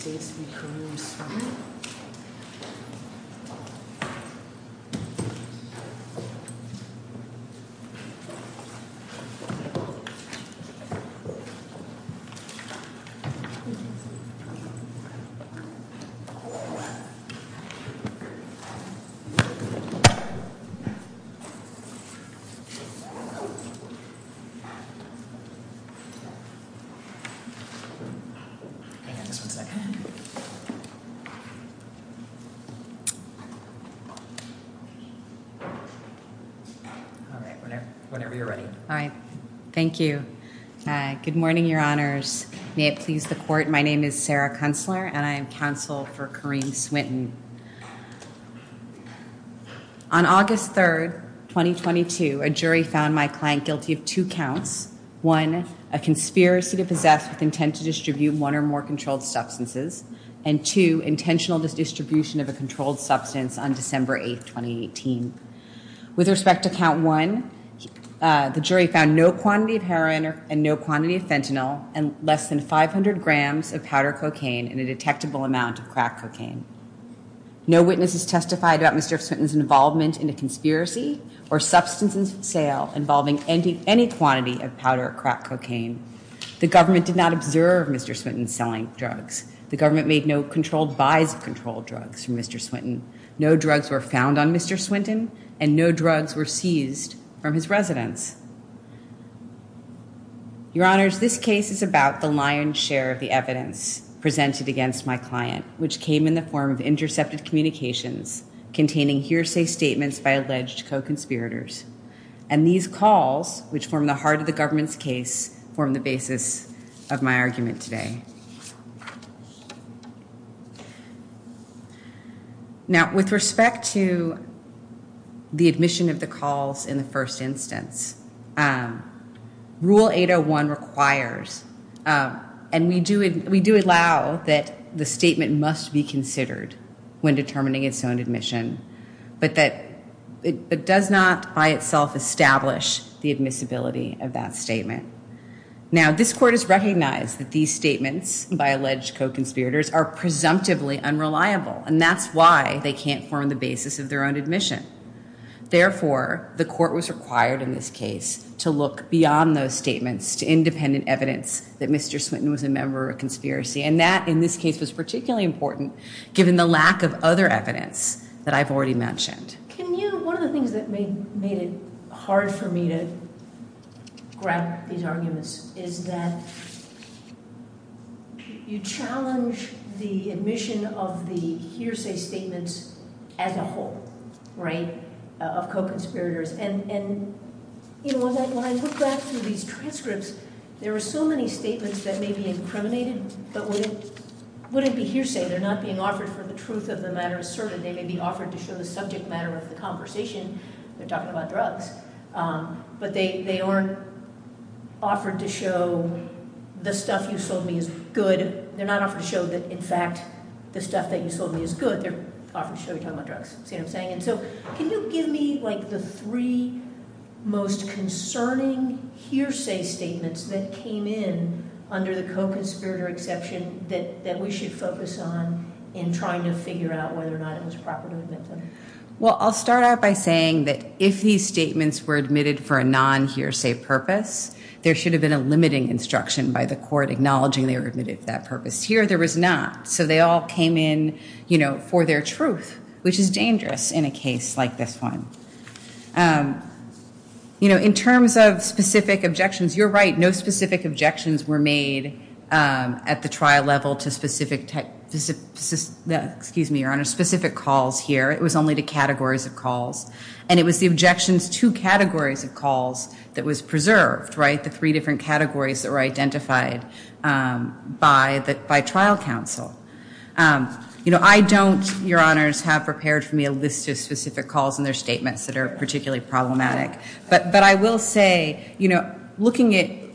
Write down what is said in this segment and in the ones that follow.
States v. Kareem Swinton. All right. Whenever you're ready. All right. Thank you. Good morning, Your Honors. May it please the court. My name is Sarah Kuntzler, and I am counsel for Kareem Swinton. On August 3rd, 2022, a jury found my client guilty of two counts. One, a conspiracy to possess with intent to distribute one or more controlled substances, and two, intentional distribution of a controlled substance on December 8th, 2018. With respect to count one, the jury found no quantity of heroin and no quantity of fentanyl and less than 500 grams of powder cocaine and a detectable amount of crack cocaine. No witnesses testified about Mr. Swinton's involvement in a conspiracy or substance sale involving any quantity of powder or crack cocaine. The government did not observe Mr. Swinton selling drugs. The government made no controlled buys of controlled drugs from Mr. Swinton. No drugs were found on Mr. Swinton, and no drugs were seized from his residence. Your Honors, this case is about the lion's share of the evidence presented against my client, which came in the form of intercepted communications containing hearsay statements by alleged co-conspirators. And these calls, which form the heart of the government's case, form the basis of my argument today. Now, with respect to the admission of the calls in the first instance, Rule 801 requires, and we do allow, that the statement must be considered when determining its own admission, but that it does not by itself establish the admissibility of that statement. Now, this Court has recognized that these statements by alleged co-conspirators are presumptively unreliable, and that's why they can't form the basis of their own admission. Therefore, the Court was required in this case to look beyond those statements to independent evidence that Mr. Swinton was a member of a conspiracy, and that, in this case, was particularly important, given the lack of other evidence that I've already mentioned. Can you – one of the things that made it hard for me to grab these arguments is that you challenge the admission of the hearsay statements as a whole, right, of co-conspirators. And, you know, when I look back through these transcripts, there are so many statements that may be incriminated, but wouldn't be hearsay. They're not being offered for the truth of the matter asserted. They may be offered to show the subject matter of the conversation. They're talking about drugs. But they aren't offered to show the stuff you sold me is good. They're not offered to show that, in fact, the stuff that you sold me is good. They're offered to show you're talking about drugs. See what I'm saying? So can you give me, like, the three most concerning hearsay statements that came in under the co-conspirator exception that we should focus on in trying to figure out whether or not it was proper to admit them? Well, I'll start out by saying that if these statements were admitted for a non-hearsay purpose, there should have been a limiting instruction by the court acknowledging they were admitted for that purpose. Here, there was not. So they all came in, you know, for their truth, which is dangerous in a case like this one. You know, in terms of specific objections, you're right. No specific objections were made at the trial level to specific calls here. It was only to categories of calls. And it was the objections to categories of calls that was preserved, right, the three different categories that were identified by trial counsel. You know, I don't, Your Honors, have prepared for me a list of specific calls and their statements that are particularly problematic. But I will say, you know,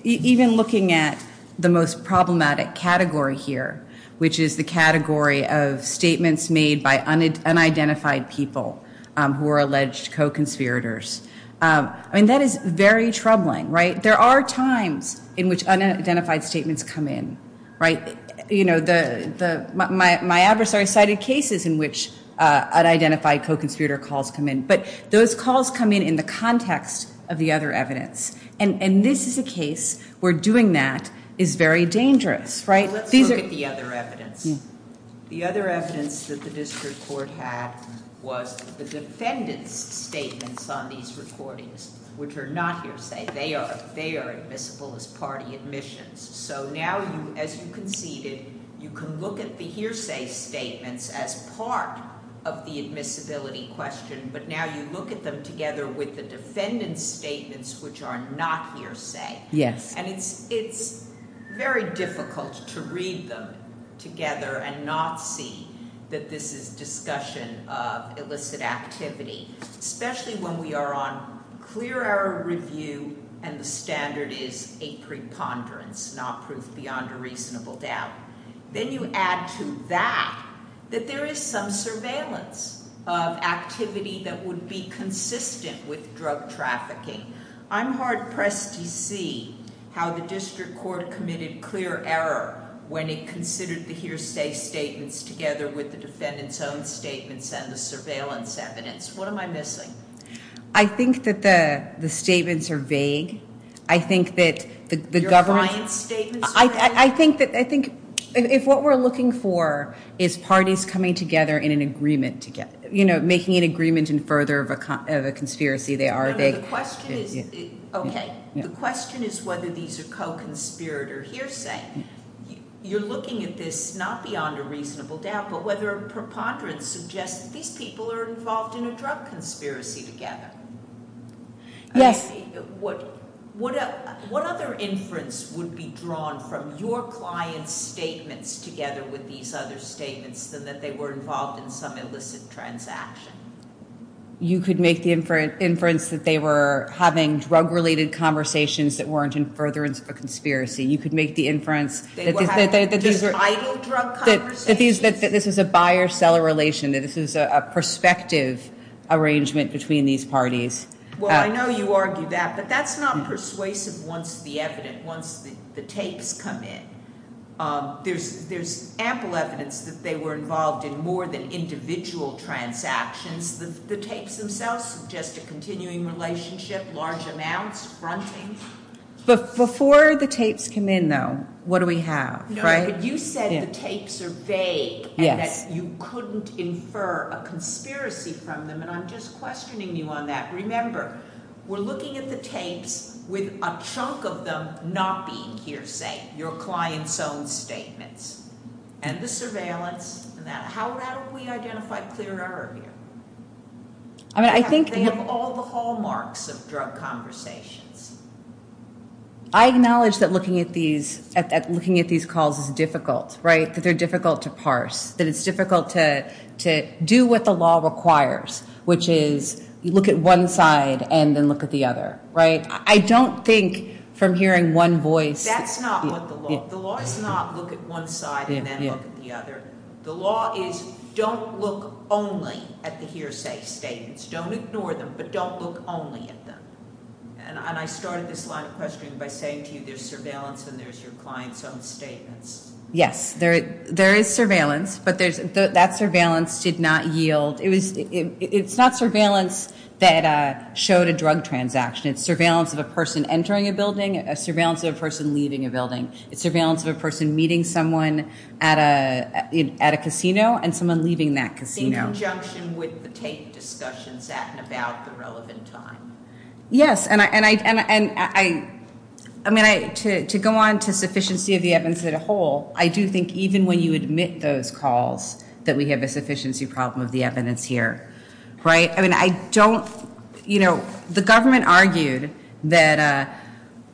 even looking at the most problematic category here, which is the category of statements made by unidentified people who are alleged co-conspirators, I mean, that is very troubling, right? There are times in which unidentified statements come in, right? You know, my adversary cited cases in which unidentified co-conspirator calls come in. But those calls come in in the context of the other evidence. And this is a case where doing that is very dangerous, right? Let's look at the other evidence. The other evidence that the district court had was the defendant's statements on these recordings, which are not hearsay. They are admissible as party admissions. So now, as you conceded, you can look at the hearsay statements as part of the admissibility question. But now you look at them together with the defendant's statements, which are not hearsay. Yes. And it's very difficult to read them together and not see that this is discussion of illicit activity, especially when we are on clear error review and the standard is a preponderance, not proof beyond a reasonable doubt. Then you add to that that there is some surveillance of activity that would be consistent with drug trafficking. I'm hard-pressed to see how the district court committed clear error when it considered the hearsay statements together with the defendant's own statements and the surveillance evidence. What am I missing? I think that the statements are vague. I think that the government— Your client's statements are vague? I think that if what we're looking for is parties coming together in an agreement, you know, making an agreement in further of a conspiracy, they are vague. Okay. The question is whether these are co-conspirator hearsay. You're looking at this not beyond a reasonable doubt, but whether a preponderance suggests that these people are involved in a drug conspiracy together. Yes. What other inference would be drawn from your client's statements together with these other statements than that they were involved in some illicit transaction? You could make the inference that they were having drug-related conversations that weren't in furtherance of a conspiracy. You could make the inference— They were having just idle drug conversations? That this is a buyer-seller relation, that this is a prospective arrangement between these parties. Well, I know you argue that, but that's not persuasive once the evidence—once the tapes come in. There's ample evidence that they were involved in more than individual transactions. The tapes themselves suggest a continuing relationship, large amounts, fronting. But before the tapes come in, though, what do we have, right? No, but you said the tapes are vague and that you couldn't infer a conspiracy from them, and I'm just questioning you on that. Remember, we're looking at the tapes with a chunk of them not being hearsay, your client's own statements. And the surveillance and that—how do we identify clearer here? I mean, I think— They have all the hallmarks of drug conversations. I acknowledge that looking at these calls is difficult, right, that they're difficult to parse, that it's difficult to do what the law requires, which is you look at one side and then look at the other, right? I don't think from hearing one voice— That's not what the law—the law is not look at one side and then look at the other. The law is don't look only at the hearsay statements. Don't ignore them, but don't look only at them. And I started this line of questioning by saying to you there's surveillance and there's your client's own statements. Yes, there is surveillance, but that surveillance did not yield— It's not surveillance that showed a drug transaction. It's surveillance of a person entering a building, surveillance of a person leaving a building. It's surveillance of a person meeting someone at a casino and someone leaving that casino. In conjunction with the tape discussions at and about the relevant time. Yes, and I—I mean, to go on to sufficiency of the evidence as a whole, I do think even when you admit those calls that we have a sufficiency problem of the evidence here, right? I mean, I don't—you know, the government argued that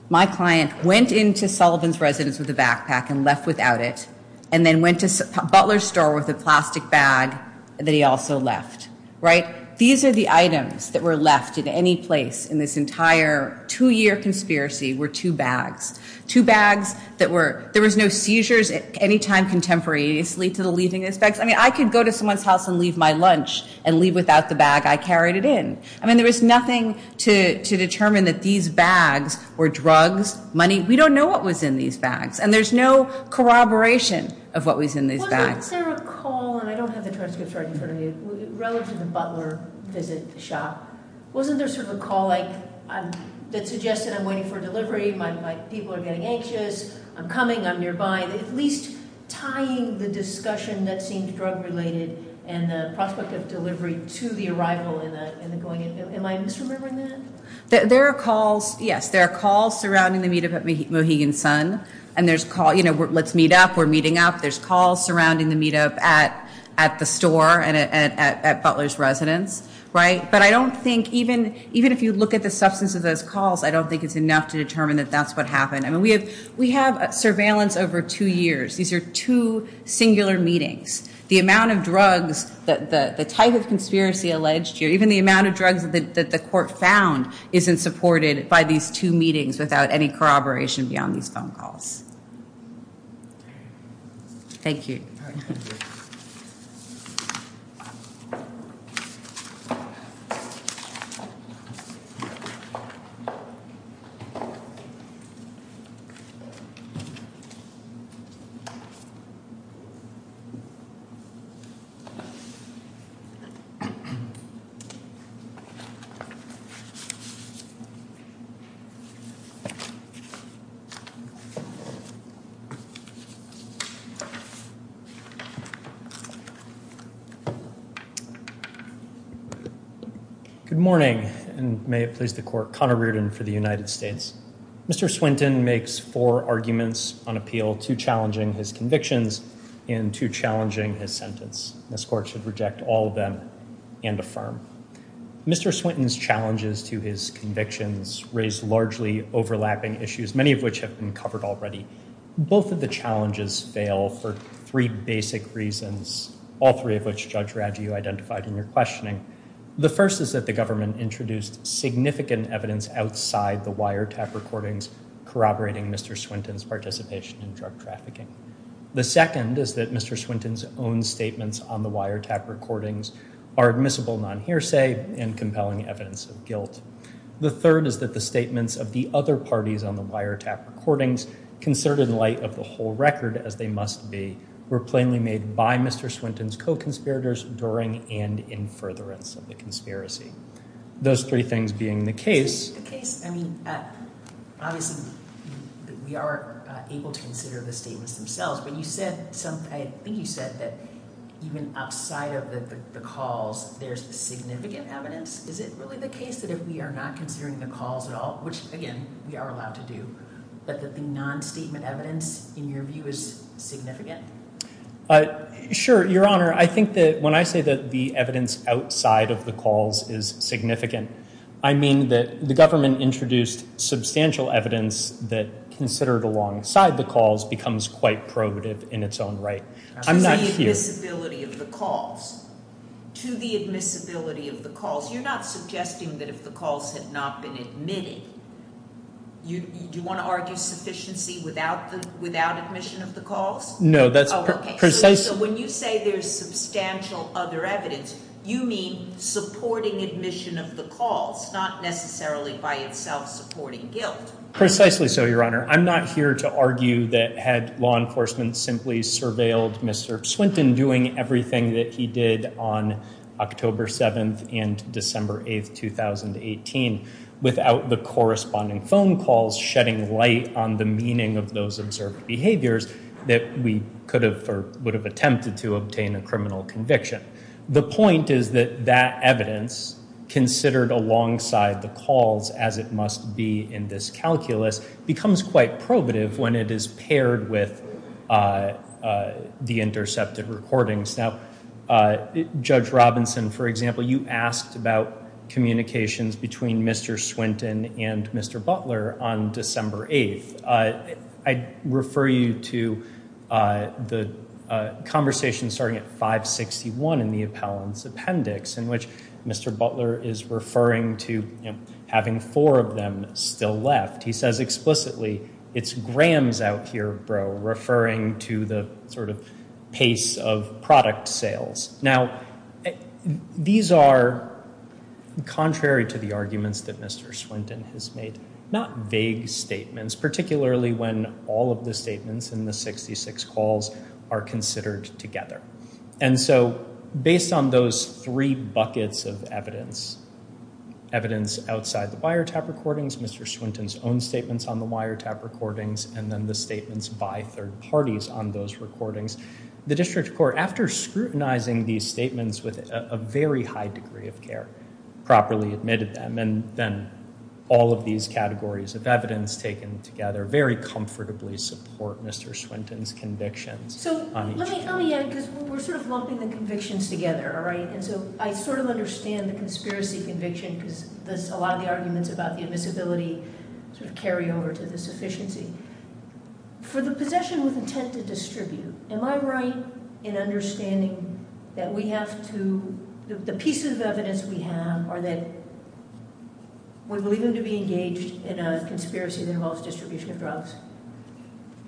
my client went into Sullivan's residence with a backpack and left without it and then went to Butler's store with a plastic bag that he also left, right? These are the items that were left at any place in this entire two-year conspiracy were two bags. Two bags that were—there was no seizures at any time contemporaneously to the leaving of these bags. I mean, I could go to someone's house and leave my lunch and leave without the bag I carried it in. I mean, there was nothing to determine that these bags were drugs, money. We don't know what was in these bags, and there's no corroboration of what was in these bags. Wasn't there a call—and I don't have the transcripts right in front of me—relative to Butler visit shop. Wasn't there sort of a call like that suggested I'm waiting for a delivery, my people are getting anxious, I'm coming, I'm nearby, at least tying the discussion that seemed drug-related and the prospect of delivery to the arrival and the going in? Am I misremembering that? There are calls—yes, there are calls surrounding the meetup at Mohegan Sun, and there's calls—you know, let's meet up, we're meeting up. There's calls surrounding the meetup at the store and at Butler's residence, right? But I don't think—even if you look at the substance of those calls, I don't think it's enough to determine that that's what happened. I mean, we have surveillance over two years. These are two singular meetings. The amount of drugs, the type of conspiracy alleged here, even the amount of drugs that the court found isn't supported by these two meetings without any corroboration beyond these phone calls. Thank you. Good morning, and may it please the court. Connor Reardon for the United States. Mr. Swinton makes four arguments on appeal, two challenging his convictions and two challenging his sentence. This court should reject all of them and affirm. Mr. Swinton's challenges to his convictions raise largely overlapping issues, many of which have been covered already. Both of the challenges fail for three basic reasons, all three of which Judge Raggio identified in your questioning. The first is that the government introduced significant evidence outside the wiretap recordings corroborating Mr. Swinton's participation in drug trafficking. The second is that Mr. Swinton's own statements on the wiretap recordings are admissible non-hearsay and compelling evidence of guilt. The third is that the statements of the other parties on the wiretap recordings, considered in light of the whole record as they must be, were plainly made by Mr. Swinton's co-conspirators during and in furtherance of the conspiracy. Those three things being the case. The case, I mean, obviously we are able to consider the statements themselves, but you said something, I think you said that even outside of the calls there's significant evidence. Is it really the case that if we are not considering the calls at all, which again we are allowed to do, that the non-statement evidence in your view is significant? Sure, Your Honor. I think that when I say that the evidence outside of the calls is significant, I mean that the government introduced substantial evidence that considered alongside the calls becomes quite probative in its own right. To the admissibility of the calls. To the admissibility of the calls. You're not suggesting that if the calls had not been admitted, do you want to argue sufficiency without admission of the calls? No. So when you say there's substantial other evidence, you mean supporting admission of the calls, not necessarily by itself supporting guilt. Precisely so, Your Honor. I'm not here to argue that had law enforcement simply surveilled Mr. Swinton doing everything that he did on October 7th and December 8th, 2018, without the corresponding phone calls shedding light on the meaning of those observed behaviors, that we could have or would have attempted to obtain a criminal conviction. The point is that that evidence, considered alongside the calls as it must be in this calculus, becomes quite probative when it is paired with the intercepted recordings. Now, Judge Robinson, for example, you asked about communications between Mr. Swinton and Mr. Butler on December 8th. I refer you to the conversation starting at 561 in the appellant's appendix, in which Mr. Butler is referring to having four of them still left. He says explicitly, it's grams out here, bro, referring to the sort of pace of product sales. Now, these are, contrary to the arguments that Mr. Swinton has made, not vague statements, particularly when all of the statements in the 66 calls are considered together. And so, based on those three buckets of evidence, evidence outside the wiretap recordings, Mr. Swinton's own statements on the wiretap recordings, and then the statements by third parties on those recordings, the district court, after scrutinizing these statements with a very high degree of care, properly admitted them, and then all of these categories of evidence taken together, very comfortably support Mr. Swinton's convictions. So, let me add, because we're sort of lumping the convictions together, all right? And so, I sort of understand the conspiracy conviction, because a lot of the arguments about the admissibility sort of carry over to the sufficiency. For the possession with intent to distribute, am I right in understanding that we have to, the pieces of evidence we have are that we believe him to be engaged in a conspiracy that involves distribution of drugs.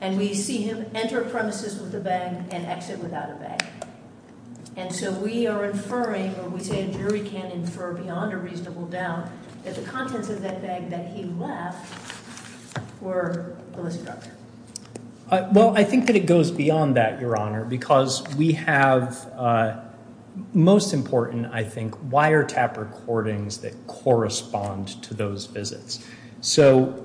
And we see him enter premises with a bag and exit without a bag. And so, we are inferring, or we say a jury can infer beyond a reasonable doubt, that the contents of that bag that he left were illicit drugs. Well, I think that it goes beyond that, Your Honor, because we have, most important, I think, wiretap recordings that correspond to those visits.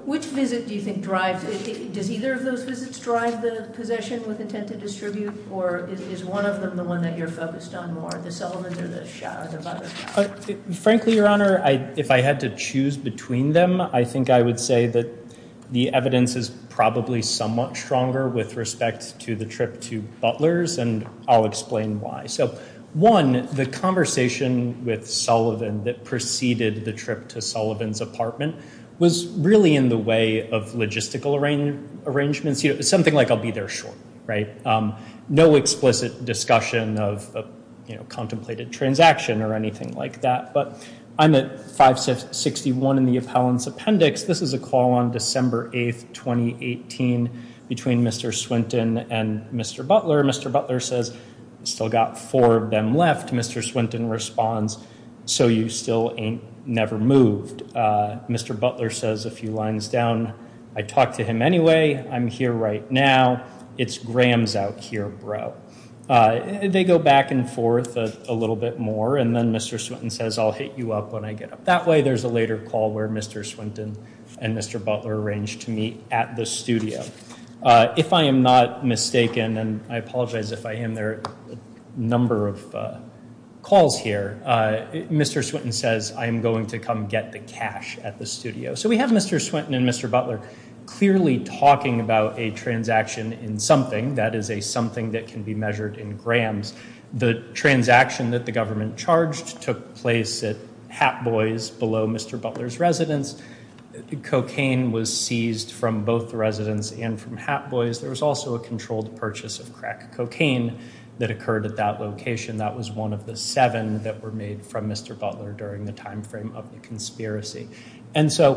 Which visit do you think drives it? Does either of those visits drive the possession with intent to distribute, or is one of them the one that you're focused on more, the Sullivan's or the Shower's or the Butler's? Frankly, Your Honor, if I had to choose between them, I think I would say that the evidence is probably somewhat stronger with respect to the trip to Butler's, and I'll explain why. So, one, the conversation with Sullivan that preceded the trip to Sullivan's apartment was really in the way of logistical arrangements, something like I'll be there shortly, right? No explicit discussion of contemplated transaction or anything like that. But I'm at 561 in the appellant's appendix. This is a call on December 8th, 2018, between Mr. Swinton and Mr. Butler. Mr. Butler says, still got four of them left. Mr. Swinton responds, so you still ain't never moved. Mr. Butler says a few lines down, I talked to him anyway. I'm here right now. It's grams out here, bro. They go back and forth a little bit more, and then Mr. Swinton says, I'll hit you up when I get up. That way there's a later call where Mr. Swinton and Mr. Butler arranged to meet at the studio. If I am not mistaken, and I apologize if I am, there are a number of calls here. Mr. Swinton says, I'm going to come get the cash at the studio. So we have Mr. Swinton and Mr. Butler clearly talking about a transaction in something. That is a something that can be measured in grams. The transaction that the government charged took place at Hat Boys below Mr. Butler's residence. Cocaine was seized from both the residence and from Hat Boys. There was also a controlled purchase of crack cocaine that occurred at that location. That was one of the seven that were made from Mr. Butler during the time frame of the conspiracy. And so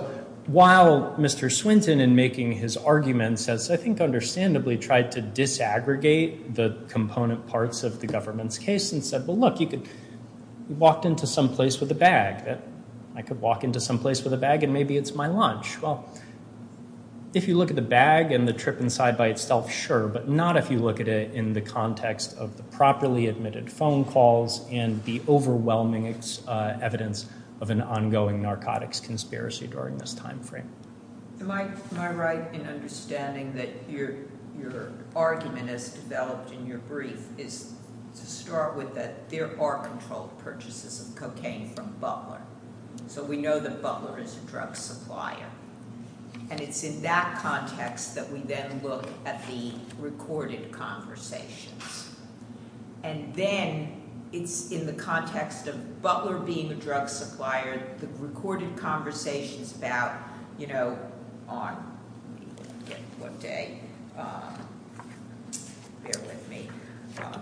while Mr. Swinton in making his arguments has, I think, understandably tried to disaggregate the component parts of the government's case and said, well, look, you could walk into some place with a bag. I could walk into some place with a bag and maybe it's my lunch. Well, if you look at the bag and the trip inside by itself, sure, but not if you look at it in the context of the properly admitted phone calls and the overwhelming evidence of an ongoing narcotics conspiracy during this time frame. Am I right in understanding that your argument as developed in your brief is to start with that there are controlled purchases of cocaine from Butler? So we know that Butler is a drug supplier. And it's in that context that we then look at the recorded conversations. And then it's in the context of Butler being a drug supplier, the recorded conversations about, you know, on what day, bear with me,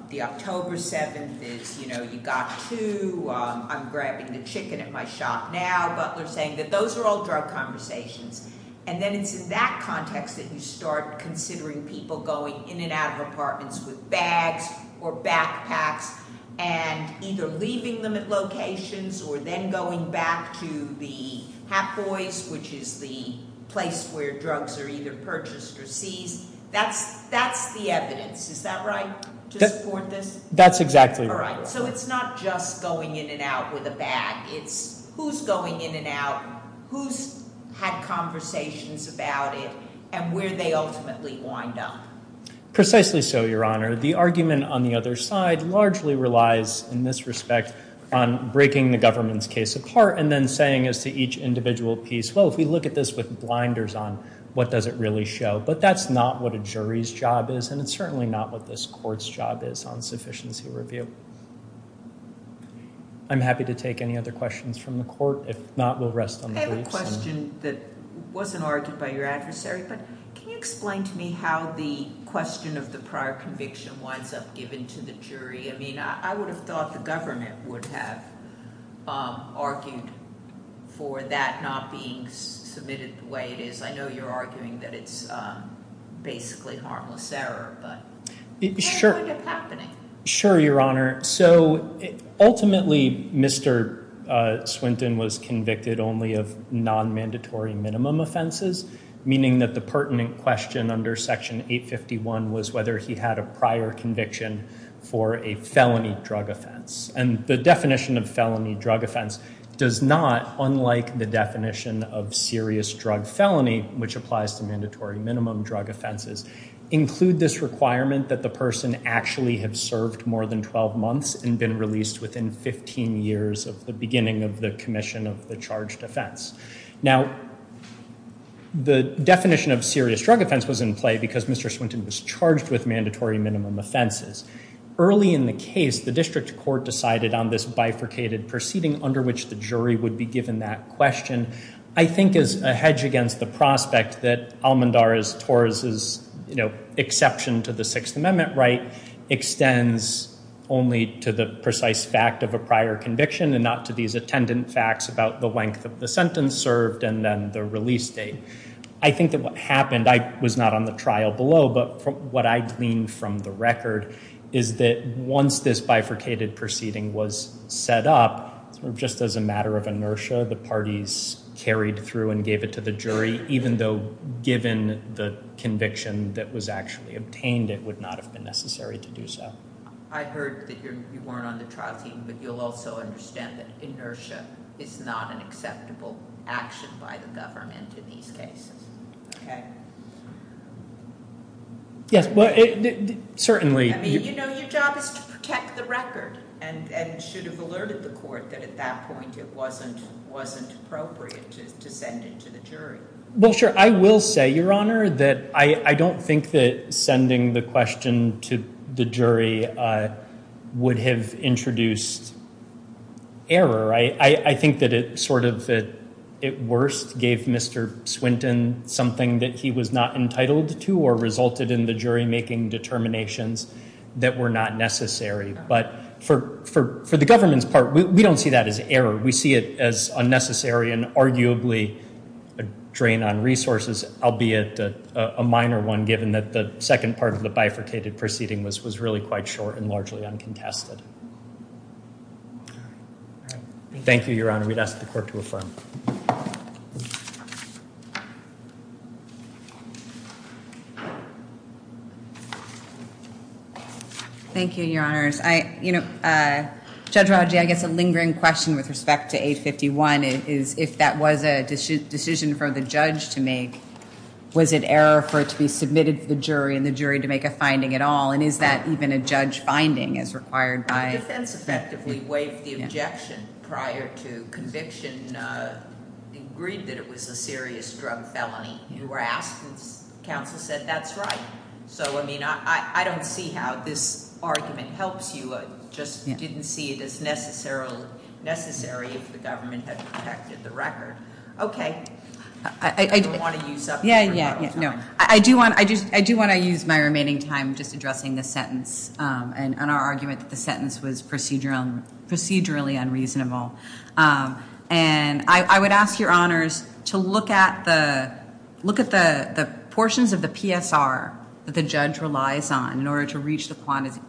the October 7th is, you know, you got two, I'm grabbing the chicken at my shop now. You've got Butler saying that those are all drug conversations. And then it's in that context that you start considering people going in and out of apartments with bags or backpacks and either leaving them at locations or then going back to the Hat Boys, which is the place where drugs are either purchased or seized. That's the evidence. Is that right, to support this? That's exactly right. All right. So it's not just going in and out with a bag. It's who's going in and out, who's had conversations about it, and where they ultimately wind up. Precisely so, Your Honor. The argument on the other side largely relies in this respect on breaking the government's case apart and then saying as to each individual piece, well, if we look at this with blinders on, what does it really show? But that's not what a jury's job is, and it's certainly not what this court's job is on sufficiency review. I'm happy to take any other questions from the court. If not, we'll rest on the briefs. I have a question that wasn't argued by your adversary, but can you explain to me how the question of the prior conviction winds up given to the jury? I mean, I would have thought the government would have argued for that not being submitted the way it is. I know you're arguing that it's basically harmless error, but where would it end up happening? Sure, Your Honor. So ultimately, Mr. Swinton was convicted only of non-mandatory minimum offenses, meaning that the pertinent question under Section 851 was whether he had a prior conviction for a felony drug offense. And the definition of felony drug offense does not, unlike the definition of serious drug felony, which applies to mandatory minimum drug offenses, include this requirement that the person actually have served more than 12 months and been released within 15 years of the beginning of the commission of the charged offense. Now, the definition of serious drug offense was in play because Mr. Swinton was charged with mandatory minimum offenses. Early in the case, the district court decided on this bifurcated proceeding under which the jury would be given that question. I think as a hedge against the prospect that Almendariz-Torres' exception to the Sixth Amendment right extends only to the precise fact of a prior conviction and not to these attendant facts about the length of the sentence served and then the release date. I think that what happened, I was not on the trial below, but what I gleaned from the record is that once this bifurcated proceeding was set up, just as a matter of inertia, the parties carried through and gave it to the jury, even though given the conviction that was actually obtained, it would not have been necessary to do so. I heard that you weren't on the trial team, but you'll also understand that inertia is not an acceptable action by the government in these cases. Okay. Yes, well, certainly. I mean, you know your job is to protect the record and should have alerted the court that at that point it wasn't appropriate to send it to the jury. Well, sure. I will say, Your Honor, that I don't think that sending the question to the jury would have introduced error. I think that it sort of at worst gave Mr. Swinton something that he was not entitled to or resulted in the jury making determinations that were not necessary. But for the government's part, we don't see that as error. We see it as unnecessary and arguably a drain on resources, albeit a minor one, given that the second part of the bifurcated proceeding was really quite short and largely uncontested. Thank you, Your Honor. We'd ask the court to affirm. Thank you, Your Honors. Judge Rodger, I guess a lingering question with respect to 851 is if that was a decision for the judge to make, was it error for it to be submitted to the jury and the jury to make a finding at all, and is that even a judge finding as required by the statute? The defense effectively waived the objection prior to conviction and agreed that it was a serious drug felony. You were asked and counsel said that's right. So, I mean, I don't see how this argument helps you. I just didn't see it as necessary if the government had protected the record. Okay. I don't want to use up everybody's time. I do want to use my remaining time just addressing the sentence and our argument that the sentence was procedurally unreasonable. And I would ask, Your Honors, to look at the portions of the PSR that the judge relies on in order to reach the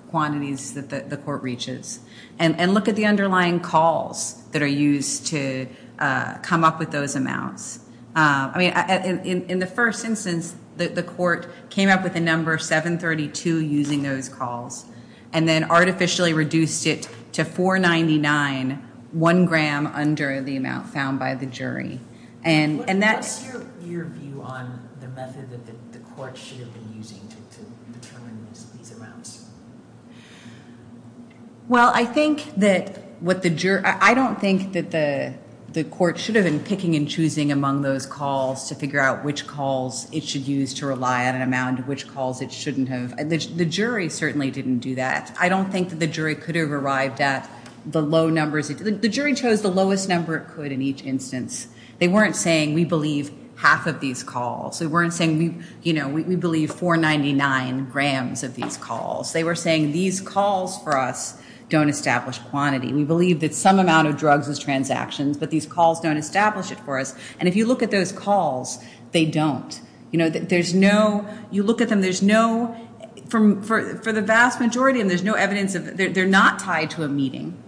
quantities that the court reaches and look at the underlying calls that are used to come up with those amounts. I mean, in the first instance, the court came up with the number 732 using those calls and then artificially reduced it to 499, one gram under the amount found by the jury. And that's your view on the method that the court should have been using to determine these amounts? Well, I think that what the jury, I don't think that the court should have been picking and choosing among those calls to figure out which calls it should use to rely on an amount and which calls it shouldn't have. The jury certainly didn't do that. I don't think that the jury could have arrived at the low numbers. The jury chose the lowest number it could in each instance. They weren't saying, We believe half of these calls. They weren't saying, We believe 499 grams of these calls. They were saying, These calls for us don't establish quantity. We believe that some amount of drugs is transactions, but these calls don't establish it for us. And if you look at those calls, they don't. You look at them, there's no, for the vast majority of them, there's no evidence of it. They're not tied to a meeting.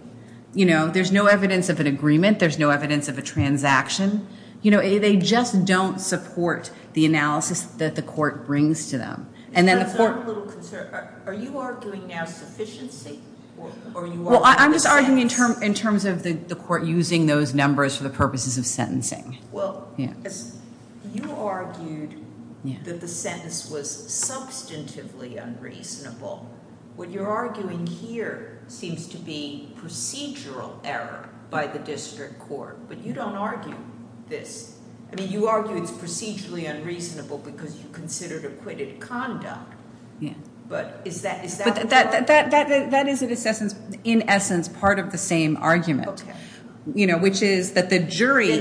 There's no evidence of an agreement. There's no evidence of a transaction. They just don't support the analysis that the court brings to them. Are you arguing now sufficiency? Well, I'm just arguing in terms of the court using those numbers for the purposes of sentencing. Well, you argued that the sentence was substantively unreasonable. What you're arguing here seems to be procedural error by the district court. But you don't argue this. I mean, you argue it's procedurally unreasonable because you considered acquitted conduct. Yeah. But is that. But that is in essence part of the same argument. Okay. You know, which is that the jury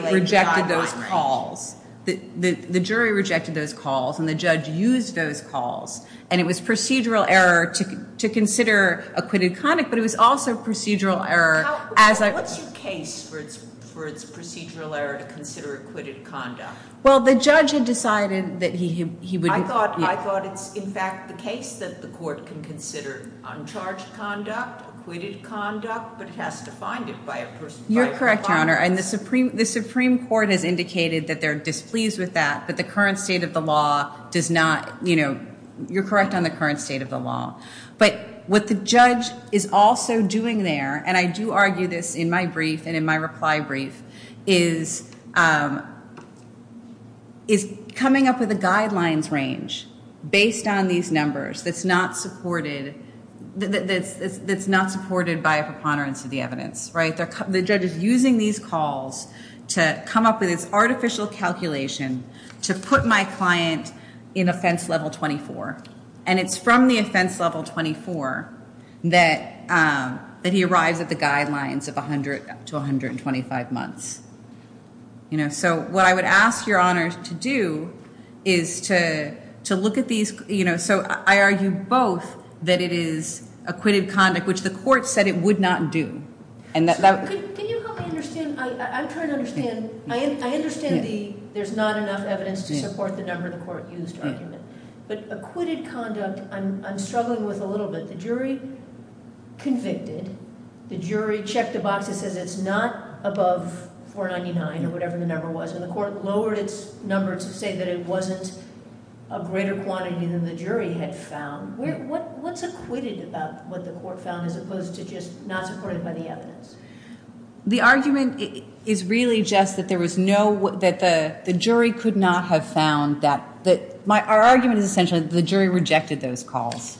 rejected those calls. The jury rejected those calls and the judge used those calls. And it was procedural error to consider acquitted conduct, but it was also procedural error. What's your case for its procedural error to consider acquitted conduct? Well, the judge had decided that he would. I thought it's, in fact, the case that the court can consider uncharged conduct, acquitted conduct, but it has to find it by a person. You're correct, Your Honor. And the Supreme Court has indicated that they're displeased with that, but the current state of the law does not, you know, you're correct on the current state of the law. But what the judge is also doing there, and I do argue this in my brief and in my reply brief, is coming up with a guidelines range based on these numbers that's not supported by a preponderance of the evidence. The judge is using these calls to come up with this artificial calculation to put my client in offense level 24. And it's from the offense level 24 that he arrives at the guidelines of 100 to 125 months. You know, so what I would ask Your Honor to do is to look at these, you know, so I argue both that it is acquitted conduct, which the court said it would not do. Can you help me understand? I'm trying to understand. I understand there's not enough evidence to support the number the court used argument, but acquitted conduct I'm struggling with a little bit. The jury convicted. The jury checked the box that says it's not above 499 or whatever the number was, and the court lowered its number to say that it wasn't a greater quantity than the jury had found. What's acquitted about what the court found as opposed to just not supported by the evidence? The argument is really just that the jury could not have found that. Our argument is essentially the jury rejected those calls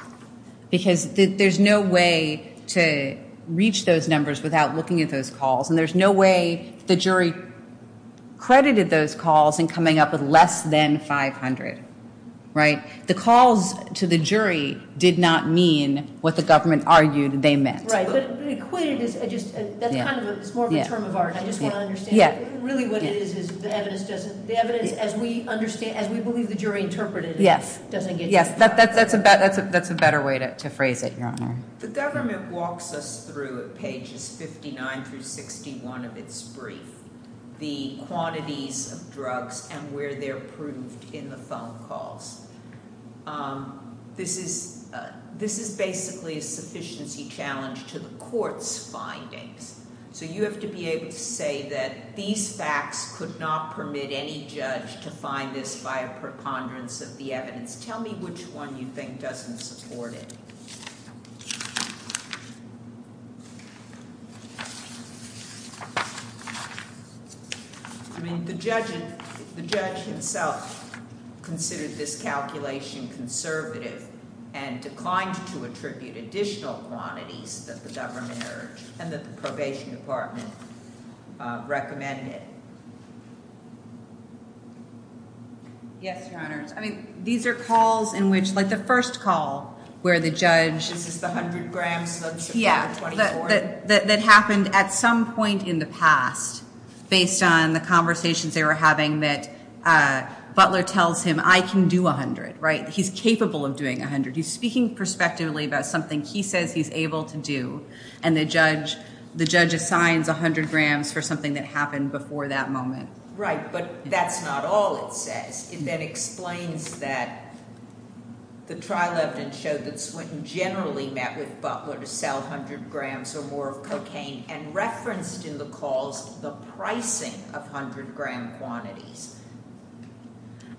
because there's no way to reach those numbers without looking at those calls, and there's no way the jury credited those calls in coming up with less than 500, right? The calls to the jury did not mean what the government argued they meant. Right, but acquitted is more of a term of art. I just want to understand really what it is. The evidence, as we believe the jury interpreted it, doesn't get you far. Yes, that's a better way to phrase it, Your Honor. The government walks us through, at pages 59 through 61 of its brief, the quantities of drugs and where they're proved in the phone calls. This is basically a sufficiency challenge to the court's findings, so you have to be able to say that these facts could not permit any judge to find this by a preponderance of the evidence. Tell me which one you think doesn't support it. I mean, the judge himself considered this calculation conservative and declined to attribute additional quantities that the government urged and that the probation department recommended. Yes, Your Honors. I mean, these are calls in which, like the first call where the judge- This is the 100 grams that's- Yeah, that happened at some point in the past based on the conversations they were having that Butler tells him, I can do 100, right? He's capable of doing 100. He's speaking prospectively about something he says he's able to do, and the judge assigns 100 grams for something that happened before that moment. Right, but that's not all it says. It then explains that the trial evidence showed that Swinton generally met with Butler to sell 100 grams or more of cocaine and referenced in the calls the pricing of 100-gram quantities.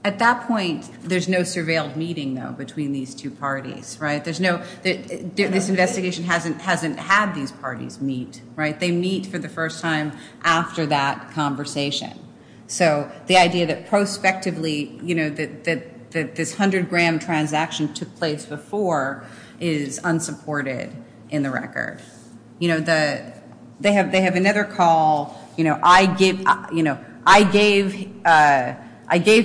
At that point, there's no surveilled meeting, though, between these two parties, right? This investigation hasn't had these parties meet, right? They meet for the first time after that conversation. So the idea that prospectively, you know, that this 100-gram transaction took place before is unsupported in the record. You know, they have another call, you know, I gave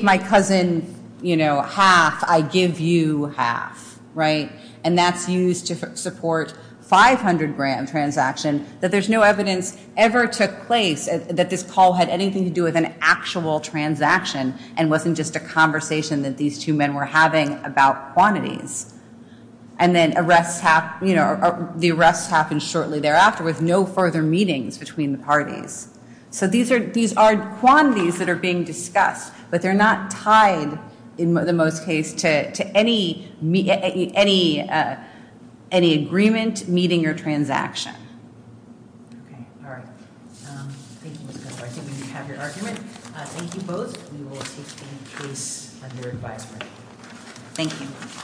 my cousin, you know, half, I give you half, right? And that's used to support 500-gram transaction that there's no evidence ever took place that this call had anything to do with an actual transaction and wasn't just a conversation that these two men were having about quantities. And then arrests, you know, the arrests happened shortly thereafter with no further meetings between the parties. So these are quantities that are being discussed, but they're not tied, in the most case, to any agreement, meeting, or transaction. Okay, all right. Thank you, Ms. Gunther. I think we have your argument. Thank you both. We will take the case under advisory. Thank you.